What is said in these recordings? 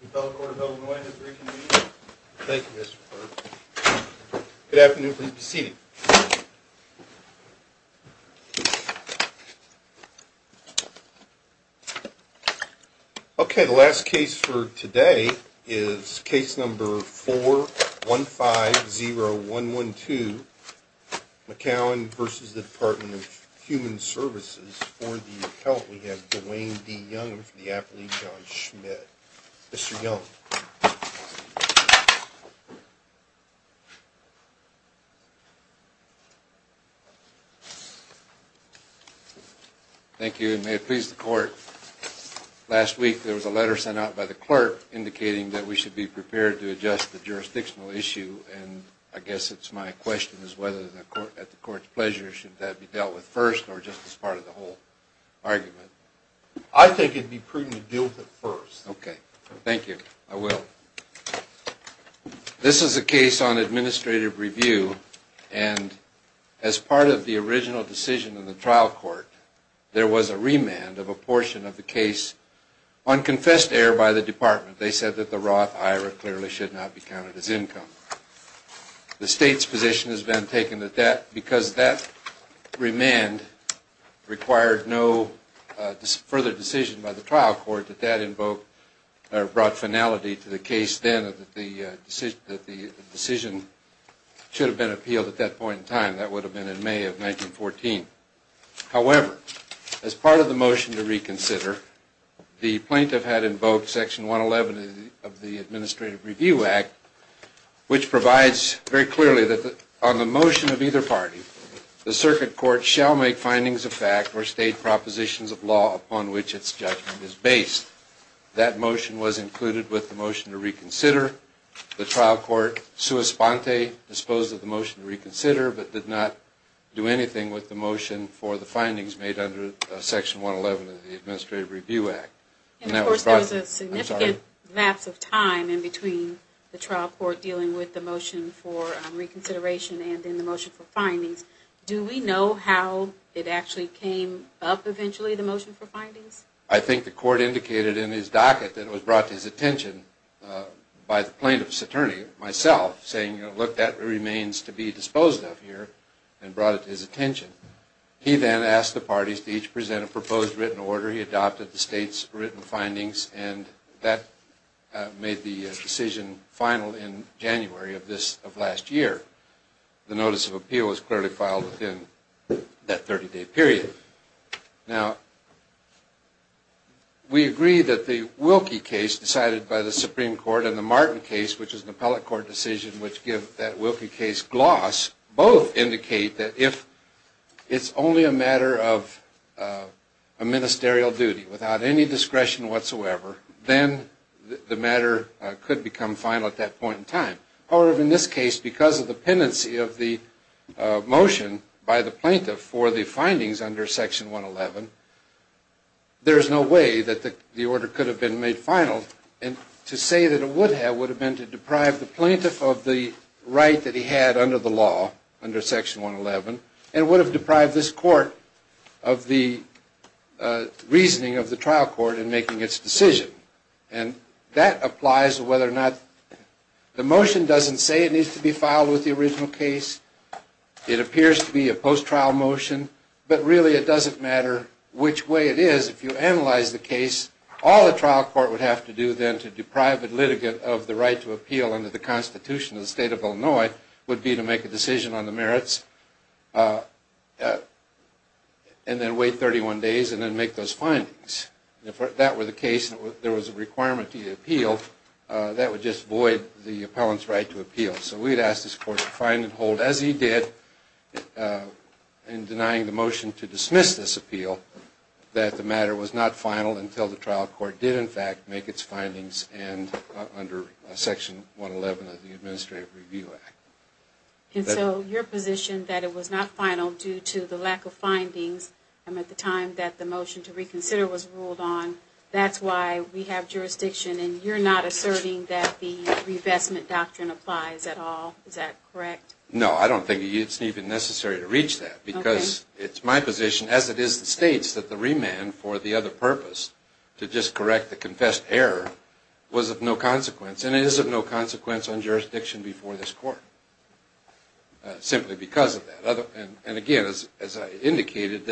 The Appellate Court of Illinois has reconvened. Thank you, Mr. Burke. Good afternoon, please be seated. Okay, the last case for today is case number 4150112, McCowan v. Department of Human Services. For the appellate we have Dwayne D. Young for the Appellate Judge Schmidt. Mr. Young. Thank you, and may it please the Court, last week there was a letter sent out by the clerk indicating that we should be prepared to adjust the jurisdictional issue. And I guess it's my question is whether at the Court's pleasure should that be dealt with first or just as part of the whole argument? I think it would be prudent to deal with it first. Okay, thank you, I will. This is a case on administrative review, and as part of the original decision in the trial court, there was a remand of a portion of the case on confessed error by the Department. They said that the Roth IRA clearly should not be counted as income. The State's position has been taken at that because that remand required no further decision by the trial court that that brought finality to the case then that the decision should have been appealed at that point in time. That would have been in May of 1914. However, as part of the motion to reconsider, the plaintiff had invoked Section 111 of the Administrative Review Act, which provides very clearly that on the motion of either party, the circuit court shall make findings of fact or state propositions of law upon which its judgment is based. That motion was included with the motion to reconsider. The trial court, sua sponte, disposed of the motion to reconsider, but did not do anything with the motion for the findings made under Section 111 of the Administrative Review Act. And of course there was a significant lapse of time in between the trial court dealing with the motion for reconsideration and then the motion for findings. Do we know how it actually came up eventually, the motion for findings? I think the court indicated in his docket that it was brought to his attention by the plaintiff's attorney, myself, saying, look, that remains to be disposed of here, and brought it to his attention. He then asked the parties to each present a proposed written order. He adopted the state's written findings, and that made the decision final in January of last year. The notice of appeal was clearly filed within that 30-day period. Now, we agree that the Wilkie case decided by the Supreme Court and the Martin case, which is an appellate court decision, which give that Wilkie case gloss, both indicate that if it's only a matter of a ministerial duty, without any discretion whatsoever, then the matter could become final at that point in time. However, in this case, because of the pendency of the motion by the plaintiff for the findings under Section 111, there is no way that the order could have been made final. And to say that it would have, would have been to deprive the plaintiff of the right that he had under the law, under Section 111, and would have deprived this court of the reasoning of the trial court in making its decision. And that applies whether or not, the motion doesn't say it needs to be filed with the original case. It appears to be a post-trial motion. But really, it doesn't matter which way it is. If you analyze the case, all the trial court would have to do then to deprive the litigant of the right to appeal under the Constitution of the State of Illinois would be to make a decision on the merits, and then wait 31 days, and then make those findings. If that were the case, and there was a requirement to appeal, that would just void the appellant's right to appeal. So we'd ask this court to find and hold, as he did in denying the motion to dismiss this appeal, that the matter was not final until the trial court did, in fact, make its findings under Section 111 of the Administrative Review Act. And so, your position that it was not final due to the lack of findings, and at the time that the motion to reconsider was ruled on, that's why we have jurisdiction, and you're not asserting that the revestment doctrine applies at all, is that correct? No, I don't think it's even necessary to reach that, because it's my position, as it is the State's, that the remand for the other purpose, to just correct the confessed error, was of no consequence, and it is of no consequence on jurisdiction before this court, simply because of that. And again, as I indicated,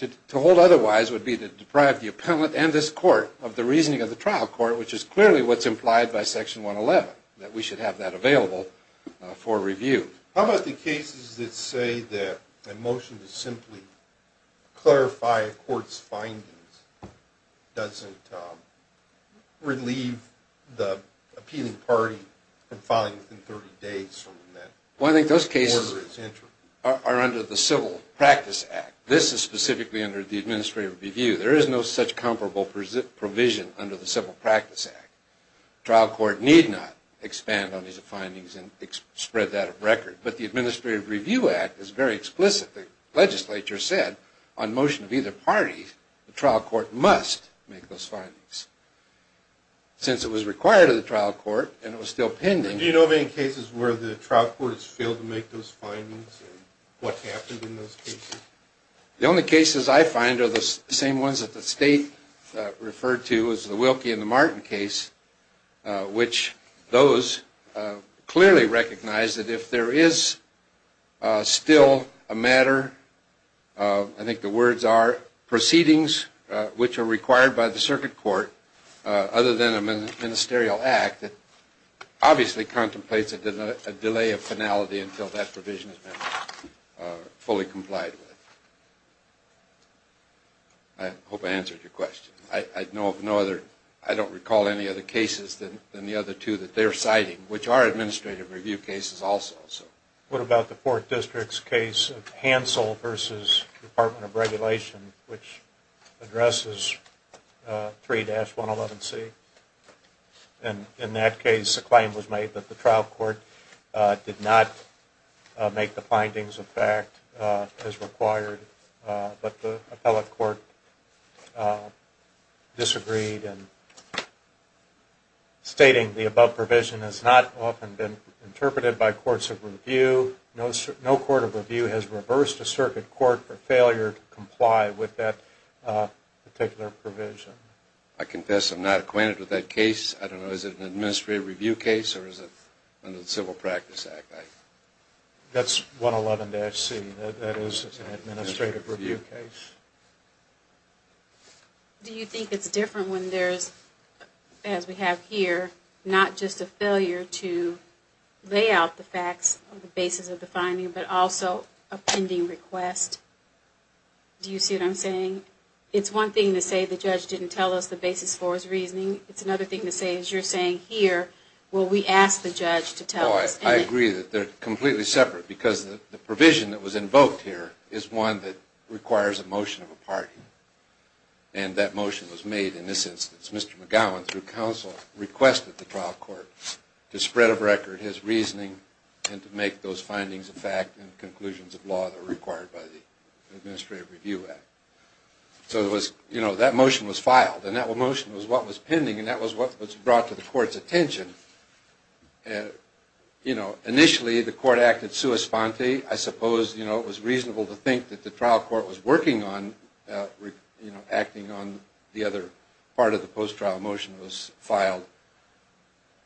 to hold otherwise would be to deprive the appellant and this court of the reasoning of the trial court, which is clearly what's implied by Section 111, that we should have that available for review. How about the cases that say that a motion to simply clarify a court's findings doesn't relieve the appealing party from filing within 30 days from when that order is entered? Well, I think those cases are under the Civil Practice Act. This is specifically under the Administrative Review. There is no such comparable provision under the Civil Practice Act. The trial court need not expand on these findings and spread that of record, but the Administrative Review Act is very explicit. The legislature said, on motion of either party, the trial court must make those findings. Since it was required of the trial court, and it was still pending... Do you know of any cases where the trial court has failed to make those findings, and what happened in those cases? The only cases I find are the same ones that the state referred to as the Wilkie and the Martin case, which those clearly recognize that if there is still a matter, I think the words are, proceedings which are required by the circuit court, other than a ministerial act, obviously contemplates a delay of finality until that provision has been fully complied with. I hope I answered your question. I don't recall any other cases than the other two that they're citing, which are administrative review cases also. What about the 4th District's case of Hansel v. Department of Regulation, which addresses 3-111C? In that case, a claim was made that the trial court did not make the findings of fact as required, but the appellate court disagreed, stating the above provision has not often been interpreted by courts of review. No court of review has reversed a circuit court for failure to comply with that particular provision. I confess I'm not acquainted with that case. I don't know, is it an administrative review case, or is it under the Civil Practice Act? That's 111-C. That is an administrative review case. Do you think it's different when there's, as we have here, not just a failure to lay out the facts on the basis of the finding, but also a pending request? Do you see what I'm saying? It's one thing to say the judge didn't tell us the basis for his reasoning. It's another thing to say, as you're saying here, will we ask the judge to tell us? I agree that they're completely separate, because the provision that was invoked here is one that requires a motion of a party, and that motion was made in this instance. Mr. McGowan, through counsel, requested the trial court to spread of record his reasoning and to make those findings a fact and conclusions of law that are required by the Administrative Review Act. So that motion was filed, and that motion was what was pending, and that was what was brought to the court's attention. Initially, the court acted sua sponte. I suppose it was reasonable to think that the trial court was working on acting on the other part of the post-trial motion that was filed.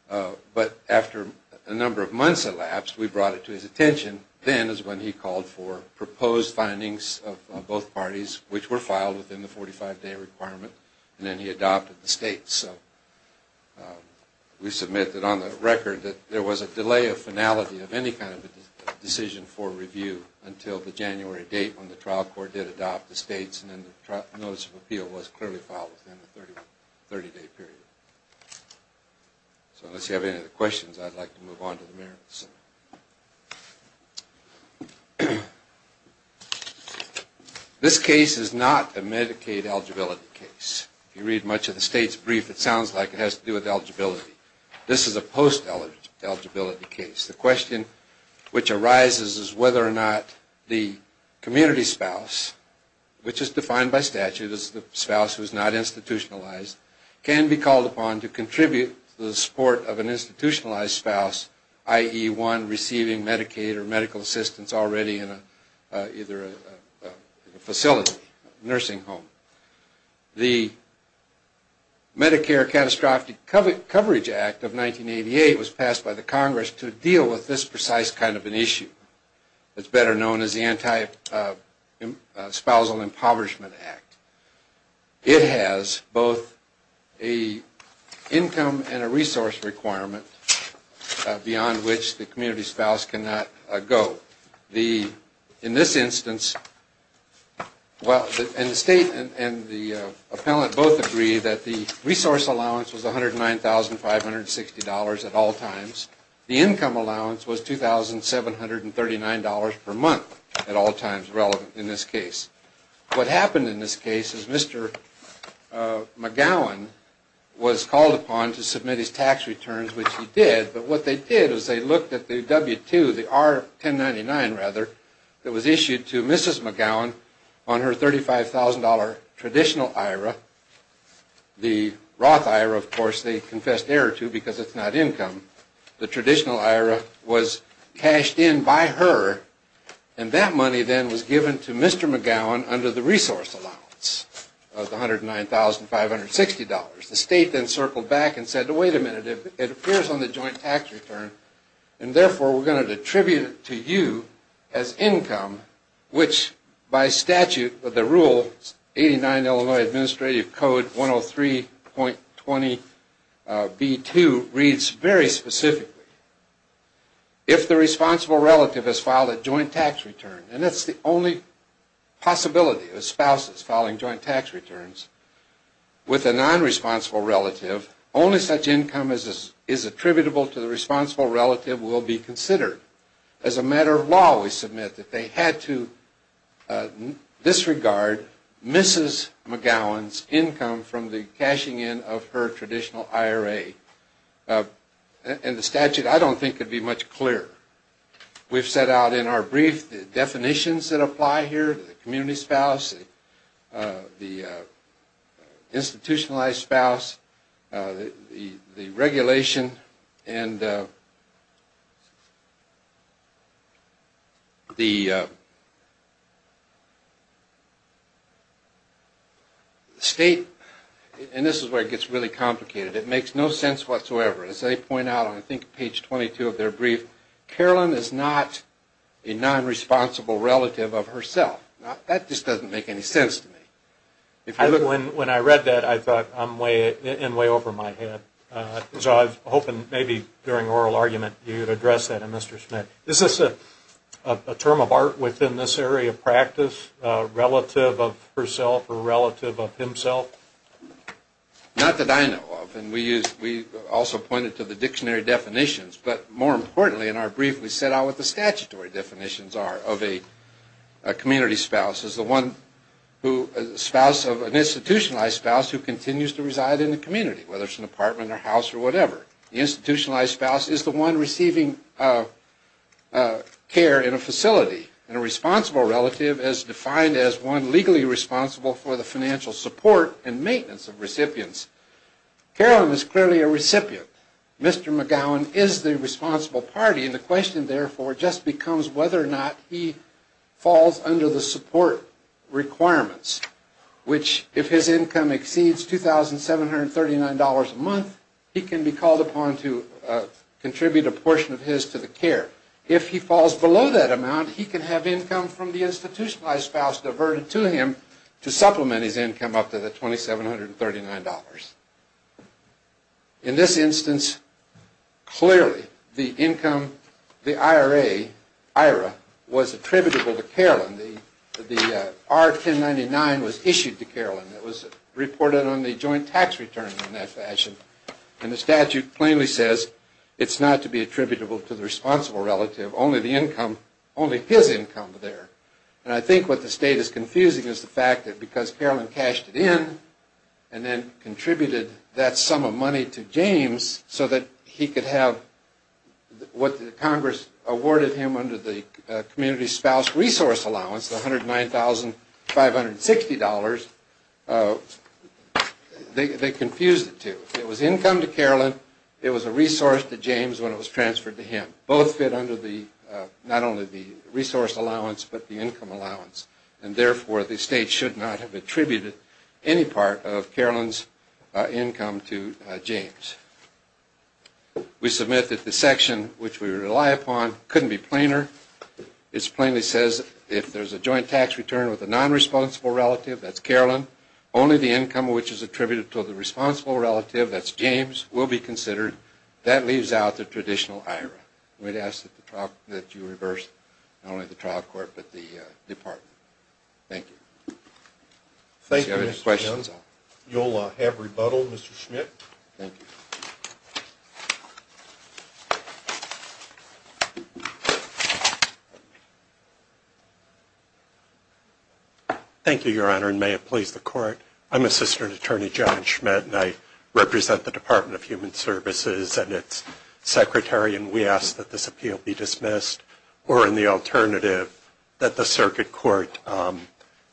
But after a number of months elapsed, we brought it to his attention. Then is when he called for proposed findings of both parties, which were filed within the 45-day requirement, and then he adopted the states. We submit that on the record that there was a delay of finality of any kind of decision for review until the January date when the trial court did adopt the states, and then the notice of appeal was clearly filed within the 30-day period. So unless you have any other questions, I'd like to move on to the merits. This case is not a Medicaid eligibility case. If you read much of the states brief, it sounds like it has to do with eligibility. This is a post-eligibility case. The question which arises is whether or not the community spouse, which is defined by statute as the spouse who is not institutionalized, can be called upon to contribute to the support of an institutionalized spouse, i.e., one receiving Medicaid or medical assistance already in either a facility, a nursing home. The Medicare Catastrophic Coverage Act of 1988 was passed by the Congress to deal with this precise kind of an issue. It's better known as the Anti-Spousal Impoverishment Act. It has both an income and a resource requirement beyond which the community spouse cannot go. In this instance, the state and the appellant both agree that the resource allowance was $109,560 at all times. The income allowance was $2,739 per month at all times relevant in this case. What happened in this case is Mr. McGowan was called upon to submit his tax returns, which he did. But what they did was they looked at the W-2, the R-1099, rather, that was issued to Mrs. McGowan on her $35,000 traditional IRA. The Roth IRA, of course, they confessed error to because it's not income. The traditional IRA was cashed in by her, and that money then was given to Mr. McGowan under the resource allowance of the $109,560. The state then circled back and said, wait a minute, it appears on the joint tax return, and therefore we're going to attribute it to you as income, which by statute, the rule 89 Illinois Administrative Code 103.20B2 reads very specifically. If the responsible relative has filed a joint tax return, and that's the only possibility of spouses filing joint tax returns, with a nonresponsible relative, only such income as is attributable to the responsible relative will be considered. As a matter of law, we submit that they had to disregard Mrs. McGowan's income from the cashing in of her traditional IRA. And the statute, I don't think, could be much clearer. We've set out in our brief the definitions that apply here, the community spouse, the institutionalized spouse, the regulation, and the state, and this is where it gets really complicated, it makes no sense whatsoever. As they point out on, I think, page 22 of their brief, Carolyn is not a nonresponsible relative of herself. That just doesn't make any sense to me. When I read that, I thought I'm way over my head. So I was hoping maybe during oral argument you would address that, Mr. Schmidt. Is this a term of art within this area of practice, relative of herself or relative of himself? Not that I know of. And we also pointed to the dictionary definitions. But more importantly, in our brief, we set out what the statutory definitions are of a community spouse. The spouse of an institutionalized spouse who continues to reside in the community, whether it's an apartment or house or whatever. The institutionalized spouse is the one receiving care in a facility. And a responsible relative is defined as one legally responsible for the financial support and maintenance of recipients. Carolyn is clearly a recipient. Mr. McGowan is the responsible party, and the question, therefore, just becomes whether or not he falls under the support requirements, which if his income exceeds $2,739 a month, he can be called upon to contribute a portion of his to the care. If he falls below that amount, he can have income from the institutionalized spouse diverted to him to supplement his income up to the $2,739. In this instance, clearly the income, the IRA was attributable to Carolyn. The R-1099 was issued to Carolyn. It was reported on the joint tax return in that fashion. And the statute plainly says it's not to be attributable to the responsible relative, only the income, only his income there. And I think what the state is confusing is the fact that because Carolyn cashed it in and then contributed that sum of money to James so that he could have what Congress awarded him under the Community Spouse Resource Allowance, the $109,560, they confused the two. It was income to Carolyn. It was a resource to James when it was transferred to him. Both fit under not only the resource allowance but the income allowance. And therefore, the state should not have attributed any part of Carolyn's income to James. We submit that the section which we rely upon couldn't be plainer. It plainly says if there's a joint tax return with a nonresponsible relative, that's Carolyn, only the income which is attributed to the responsible relative, that's James, will be considered. That leaves out the traditional IRA. We'd ask that you reverse not only the trial court but the department. Thank you. If you have any questions, you'll have rebuttal, Mr. Schmidt. Thank you. Thank you, Your Honor, and may it please the Court. I'm Assistant Attorney John Schmidt, and I represent the Department of Human Services and its secretary, and we ask that this appeal be dismissed or, in the alternative, that the circuit court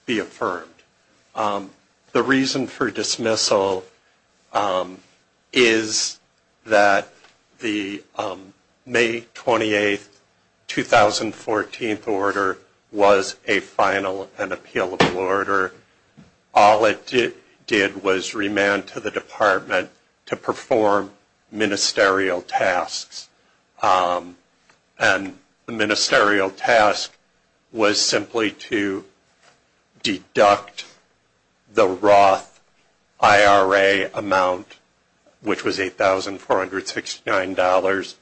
be affirmed. The reason for dismissal is that the May 28, 2014 order was a final and appealable order. All it did was remand to the department to perform ministerial tasks, and the ministerial task was simply to deduct the Roth IRA amount, which was $8,469,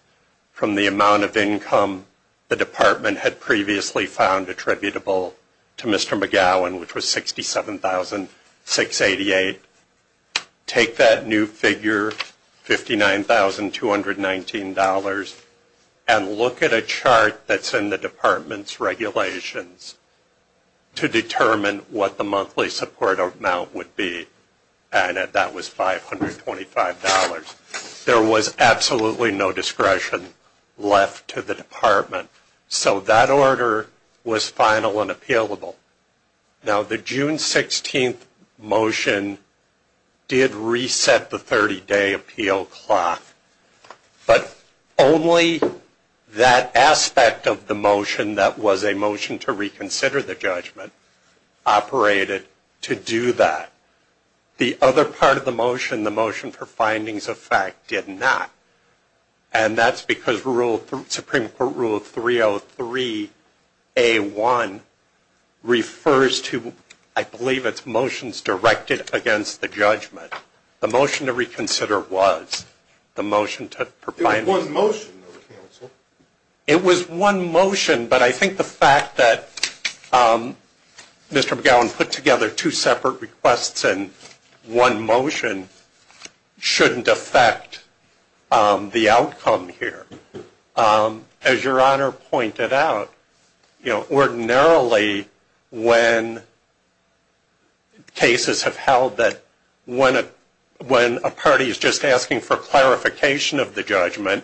from the amount of income the department had previously found attributable to Mr. McGowan, which was $67,688. Take that new figure, $59,219, and look at a chart that's in the department's regulations to determine what the monthly support amount would be, and that was $525. There was absolutely no discretion left to the department, so that order was final and appealable. Now, the June 16 motion did reset the 30-day appeal clock, but only that aspect of the motion that was a motion to reconsider the judgment operated to do that. The other part of the motion, the motion for findings of fact, did not, and that's because Supreme Court Rule 303A1 refers to, I believe, it's motions directed against the judgment. The motion to reconsider was the motion to provide. It was one motion, but I think the fact that Mr. McGowan put together two separate requests and one motion shouldn't affect the outcome here. As Your Honor pointed out, ordinarily when cases have held that when a party is just asking for clarification of the judgment,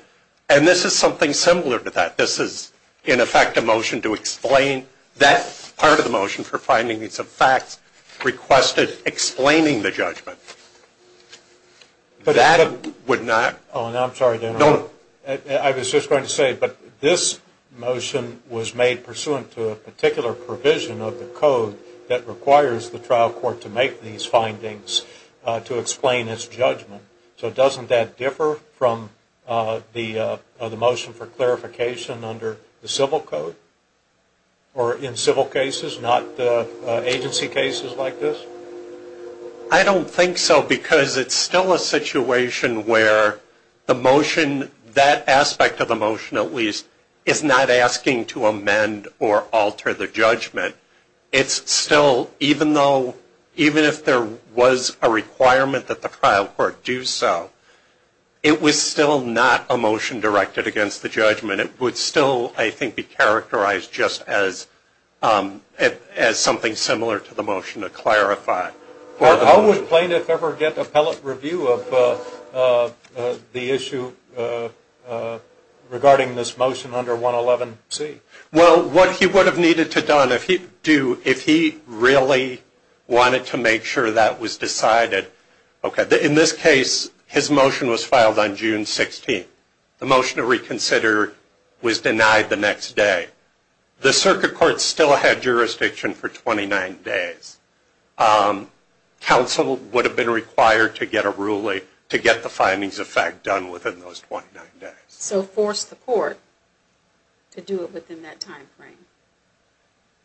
and this is something similar to that. This is, in effect, a motion to explain that part of the motion for finding these facts requested, explaining the judgment. I was just going to say, but this motion was made pursuant to a particular provision of the code that requires the trial court to make these findings to explain its judgment. So doesn't that differ from the motion for clarification under the civil code? Or in civil cases, not agency cases like this? I don't think so, because it's still a situation where the motion, that aspect of the motion at least, is not asking to amend or alter the judgment. It's still, even though, even if there was a requirement that the trial court do so, it was still not a motion directed against the judgment. It would still, I think, be characterized just as something similar to the motion to clarify. How would plaintiff ever get appellate review of the issue regarding this motion under 111C? Well, what he would have needed to do if he really wanted to make sure that was decided, in this case, his motion was filed on June 16th. The motion to reconsider was denied the next day. The circuit court still had jurisdiction for 29 days. Counsel would have been required to get a ruling to get the findings of fact done within those 29 days. So force the court to do it within that time frame.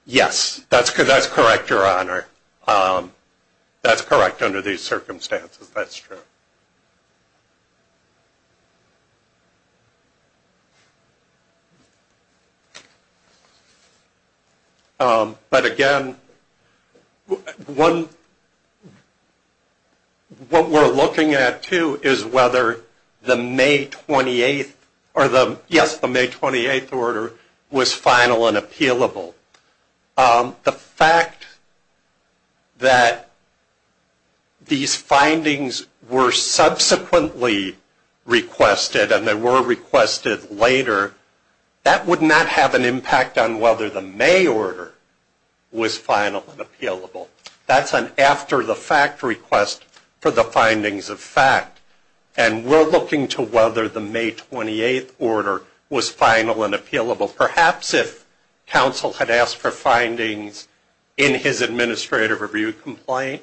Yes, that's correct, Your Honor. That's correct under these circumstances, that's true. But again, what we're looking at too is whether the May 28th, or the, yes, the May 28th order was final and appealable. The fact that these findings were subsequently requested, and they were requested later, that would not have an impact on whether the May order was final and appealable. That's an after the fact request for the findings of fact. And we're looking to whether the May 28th order was final and appealable. Perhaps if counsel had asked for findings in his administrative review complaint,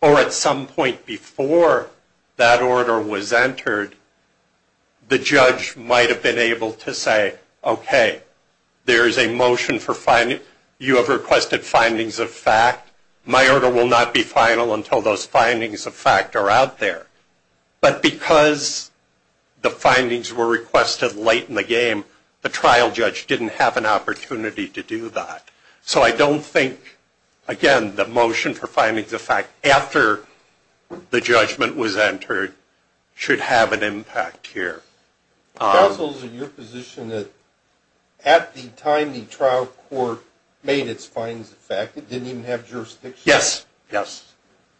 or at some point before that order was entered, the judge might have been able to say, okay, there is a motion for finding, you have requested findings of fact, my order will not be final until those findings of fact are out there. But because the findings were requested late in the game, the trial judge didn't have an opportunity to do that. So I don't think, again, the motion for findings of fact after the judgment was entered should have an impact here. Counsel's in your position that at the time the trial court made its findings of fact, it didn't even have jurisdiction? Yes.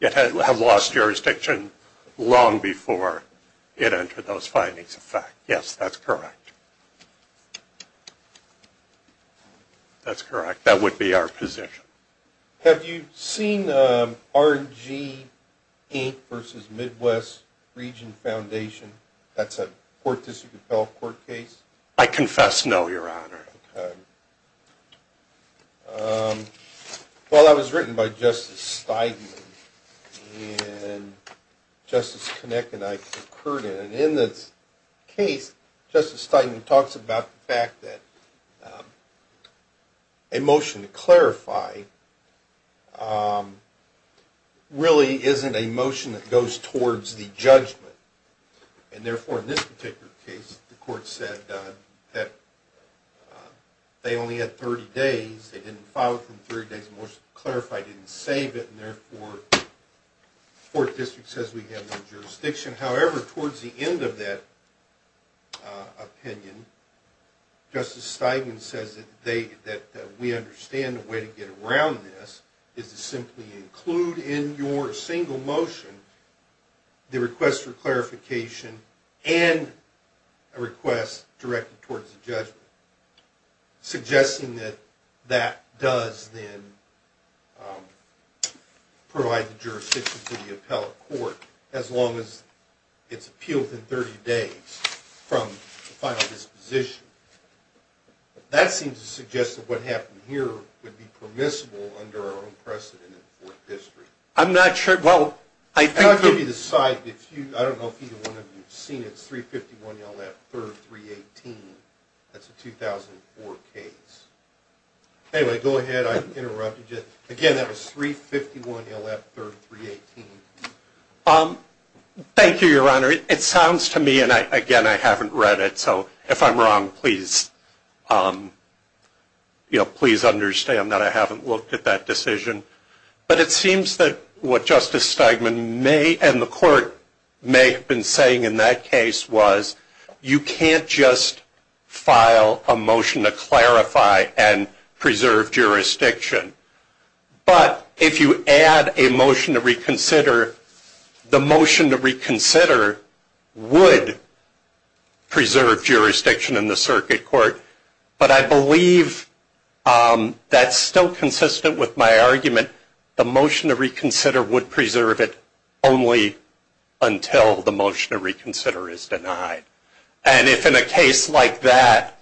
It had lost jurisdiction long before it entered those findings of fact. Yes, that's correct. That's correct. That would be our position. Have you seen R&G Inc. v. Midwest Region Foundation? That's a court-dispute-compelled court case? I confess no, Your Honor. Well, that was written by Justice Steidman, and Justice Kinnick and I concurred in it. And in this case, Justice Steidman talks about the fact that a motion to clarify really isn't a motion that goes towards the judgment. And therefore, in this particular case, the court said that they only had 30 days. They didn't file it from 30 days. The motion to clarify didn't save it, and therefore the Fourth District says we have no jurisdiction. However, towards the end of that opinion, Justice Steidman says that we understand the way to get around this is to simply include in your single motion the request for clarification and a request directed towards the judgment, suggesting that that does then provide the jurisdiction to the appellate court, as long as it's appealed within 30 days from the final disposition. That seems to suggest that what happened here would be permissible under our own precedent in the Fourth District. I'm not sure. Well, I think... I'll give you the site. I don't know if either one of you have seen it. It's 351 L.F. 3rd 318. That's a 2004 case. Anyway, go ahead. I interrupted you. Again, that was 351 L.F. 3rd 318. Thank you, Your Honor. It sounds to me, and again, I haven't read it, so if I'm wrong, please understand that I haven't looked at that decision. But it seems that what Justice Steidman and the court may have been saying in that case was you can't just file a motion to clarify and preserve jurisdiction. But if you add a motion to reconsider, the motion to reconsider would preserve jurisdiction in the circuit court, but I believe that's still consistent with my argument. The motion to reconsider would preserve it only until the motion to reconsider is denied. And if in a case like that,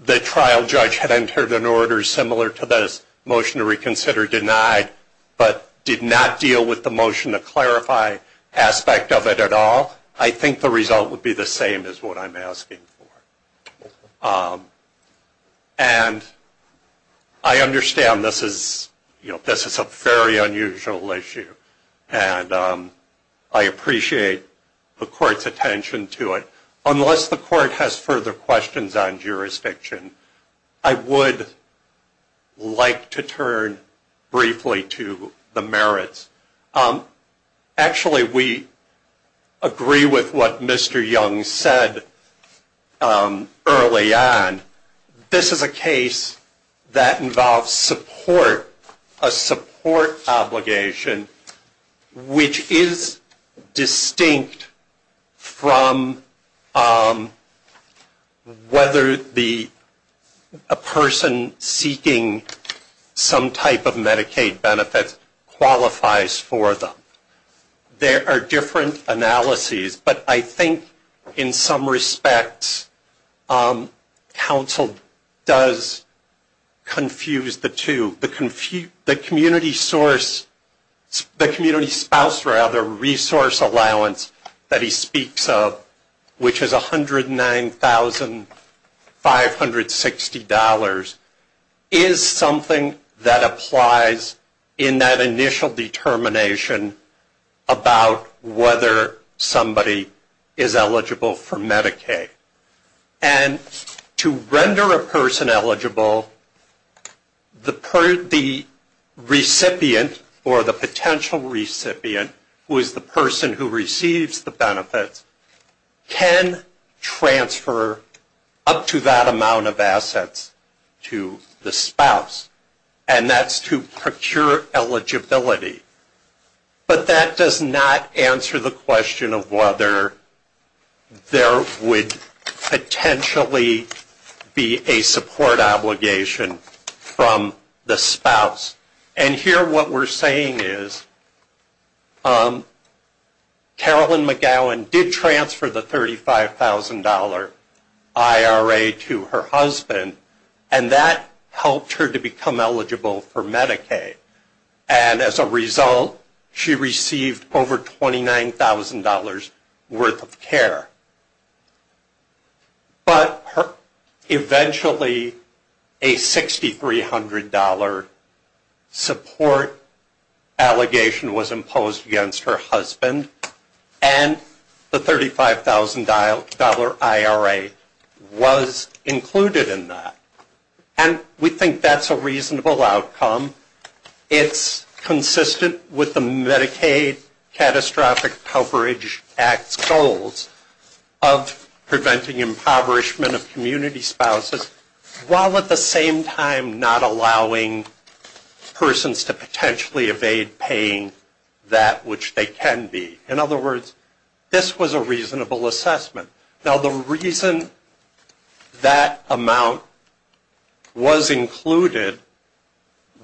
the trial judge had entered an order similar to this motion to reconsider denied, but did not deal with the motion to clarify aspect of it at all, I think the result would be the same as what I'm asking for. And I understand this is a very unusual issue, and I appreciate the court's attention to it. Unless the court has further questions on jurisdiction, I would like to turn briefly to the merits. Actually, we agree with what Mr. Young said early on. This is a case that involves support, a support obligation, which is distinct from whether a person seeking some type of Medicaid benefits qualifies for them. There are different analyses, but I think in some respects, counsel does confuse the two. The community spouse resource allowance that he speaks of, which is $109,560, is something that applies in that initial determination about whether somebody is eligible for Medicaid. And to render a person eligible, the recipient or the potential recipient, who is the person who receives the benefits, can transfer up to that amount of assets to the spouse, and that's to procure eligibility. But that does not answer the question of whether there would potentially be a support obligation from the spouse. And here what we're saying is Carolyn McGowan did transfer the $35,000 IRA to her husband, and that helped her to become eligible for Medicaid. And as a result, she received over $29,000 worth of care. But eventually a $6,300 support allegation was imposed against her husband, and the $35,000 IRA was included in that. And we think that's a reasonable outcome. It's consistent with the Medicaid Catastrophic Coverage Act's goals of preventing impoverishment of community spouses, while at the same time not allowing persons to potentially evade paying that which they can be. In other words, this was a reasonable assessment. Now the reason that amount was included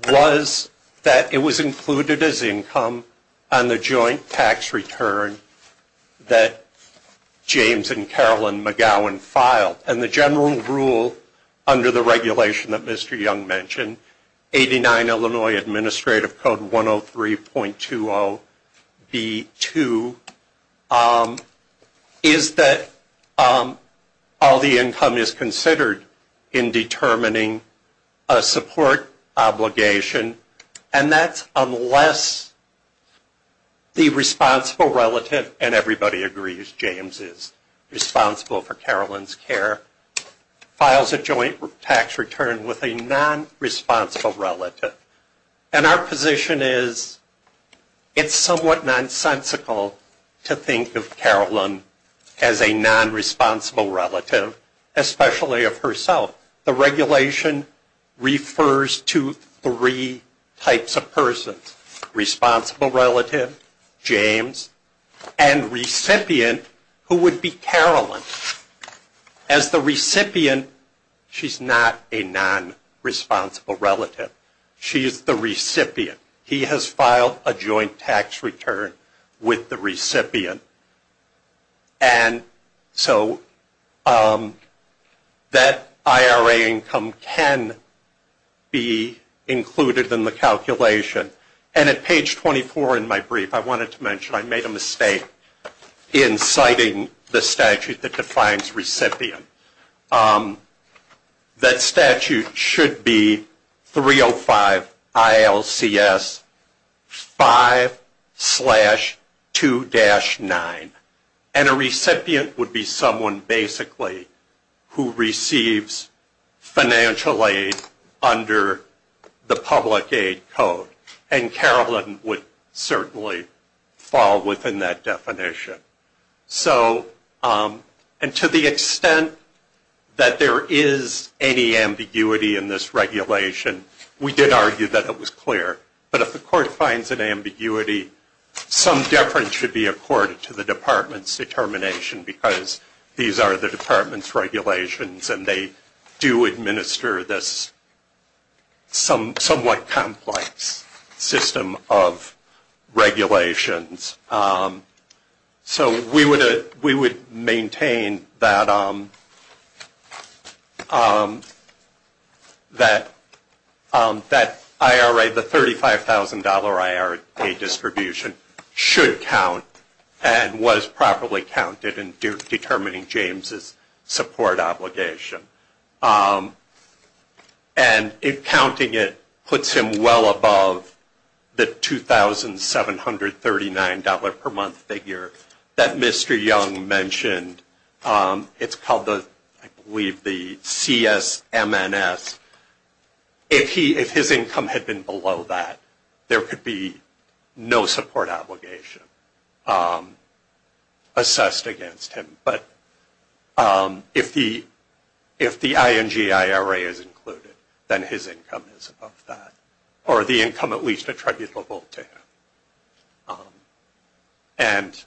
was that it was included as income on the joint tax return that James and Carolyn McGowan filed. And the general rule under the regulation that Mr. Young mentioned, 89 Illinois Administrative Code 103.20B2, is that all the income is considered in determining a support obligation, and that's unless the responsible relative, and everybody agrees James is responsible for Carolyn's care, files a joint tax return with a non-responsible relative. And our position is it's somewhat nonsensical to think of Carolyn as a non-responsible relative, especially of herself. The regulation refers to three types of persons. Responsible relative, James, and recipient who would be Carolyn. As the recipient, she's not a non-responsible relative. She is the recipient. He has filed a joint tax return with the recipient. And so that IRA income can be included in the calculation. And at page 24 in my brief, I wanted to mention I made a mistake in citing the statute that defines recipient. That statute should be 305 ILCS 5-2-9. And a recipient would be someone basically who receives financial aid under the public aid code. And Carolyn would certainly fall within that definition. And to the extent that there is any ambiguity in this regulation, we did argue that it was clear. But if the court finds an ambiguity, some deference should be accorded to the department's determination, because these are the department's regulations, and they do administer this somewhat complex. System of regulations. So we would maintain that IRA, the $35,000 IRA distribution, should count and was properly counted in determining James's support obligation. And counting it puts him well above the $2,739 per month figure that Mr. Young mentioned. It's called the, I believe, the CSMNS. If his income had been below that, there could be no support obligation assessed against him. But if the ING IRA is included, then his income is above that. Or the income at least attributable to him. And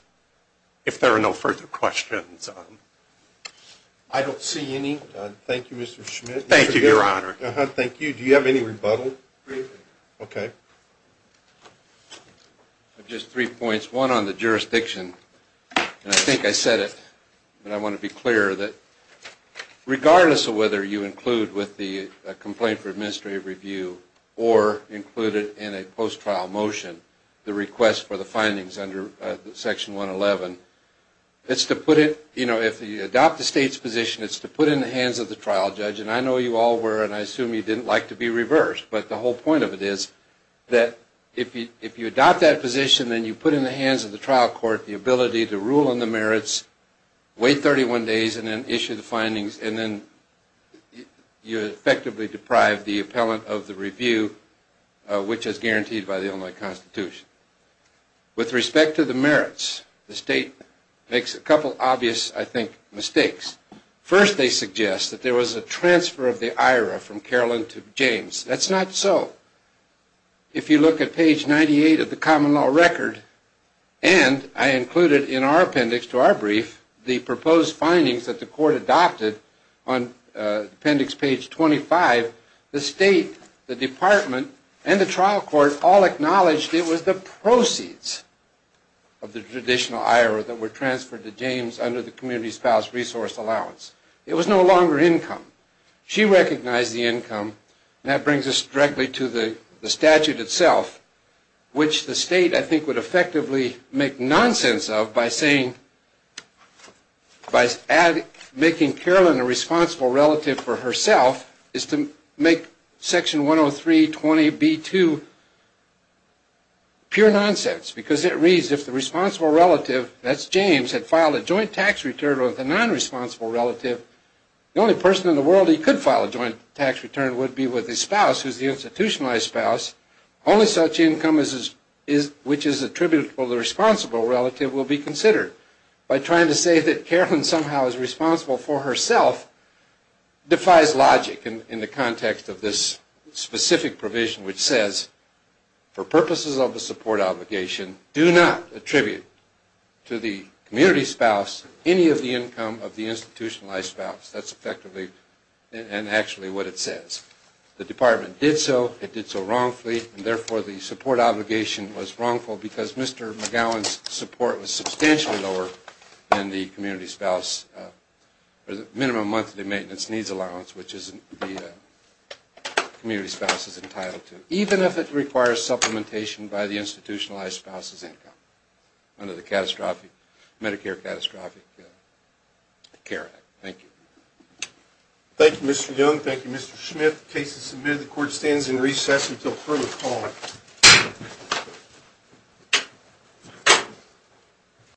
if there are no further questions... I don't see any. Thank you, Mr. Schmidt. Just three points. One on the jurisdiction. I think I said it, but I want to be clear. Regardless of whether you include with the Complaint for Administrative Review, or include it in a post-trial motion, the request for the findings under Section 111, if you adopt the state's position, it's to put it in the hands of the trial judge. And I know you all were, and I assume you didn't like to be reversed. But the whole point of it is that if you adopt that position, then you put in the hands of the trial court the ability to rule on the merits, wait 31 days, and then issue the findings. And then you effectively deprive the appellant of the review, which is guaranteed by the Illinois Constitution. With respect to the merits, the state makes a couple obvious, I think, mistakes. First, they suggest that there was a transfer of the IRA from Carolyn to James. That's not so. If you look at page 98 of the common law record, and I included in our appendix to our brief the proposed findings that the court adopted on appendix page 25, the state, the department, and the trial court all acknowledged it was the proceeds of the traditional IRA that were transferred to James under the Community Spouse Resource Allowance. It was no longer income. She recognized the income, and that brings us directly to the statute itself, which the state, I think, would effectively make nonsense of by saying, by making Carolyn a responsible relative for herself is to make section 103.20b.2 pure nonsense, because it reads, if the responsible relative, that's James, had filed a joint tax return with a nonresponsible relative, the only person in the world he could file a joint tax return would be with his spouse, who's the institutionalized spouse. Only such income which is attributable to the responsible relative will be considered. By trying to say that Carolyn somehow is responsible for herself defies logic in the context of this specific provision, which says, for purposes of the support obligation, do not attribute to the community spouse any of the income of the institutionalized spouse. That's effectively and actually what it says. The department did so, it did so wrongfully, and therefore the support obligation was wrongful because Mr. McGowan's support was substantially lower than the Community Spouse Minimum Monthly Maintenance Needs Allowance, which the community spouse is entitled to, even if it requires supplementation by the institutionalized spouse's income under the Medicare Catastrophic Care Act. Thank you, Mr. Young. Thank you, Mr. Smith. The case is submitted. The court stands in recess until further call.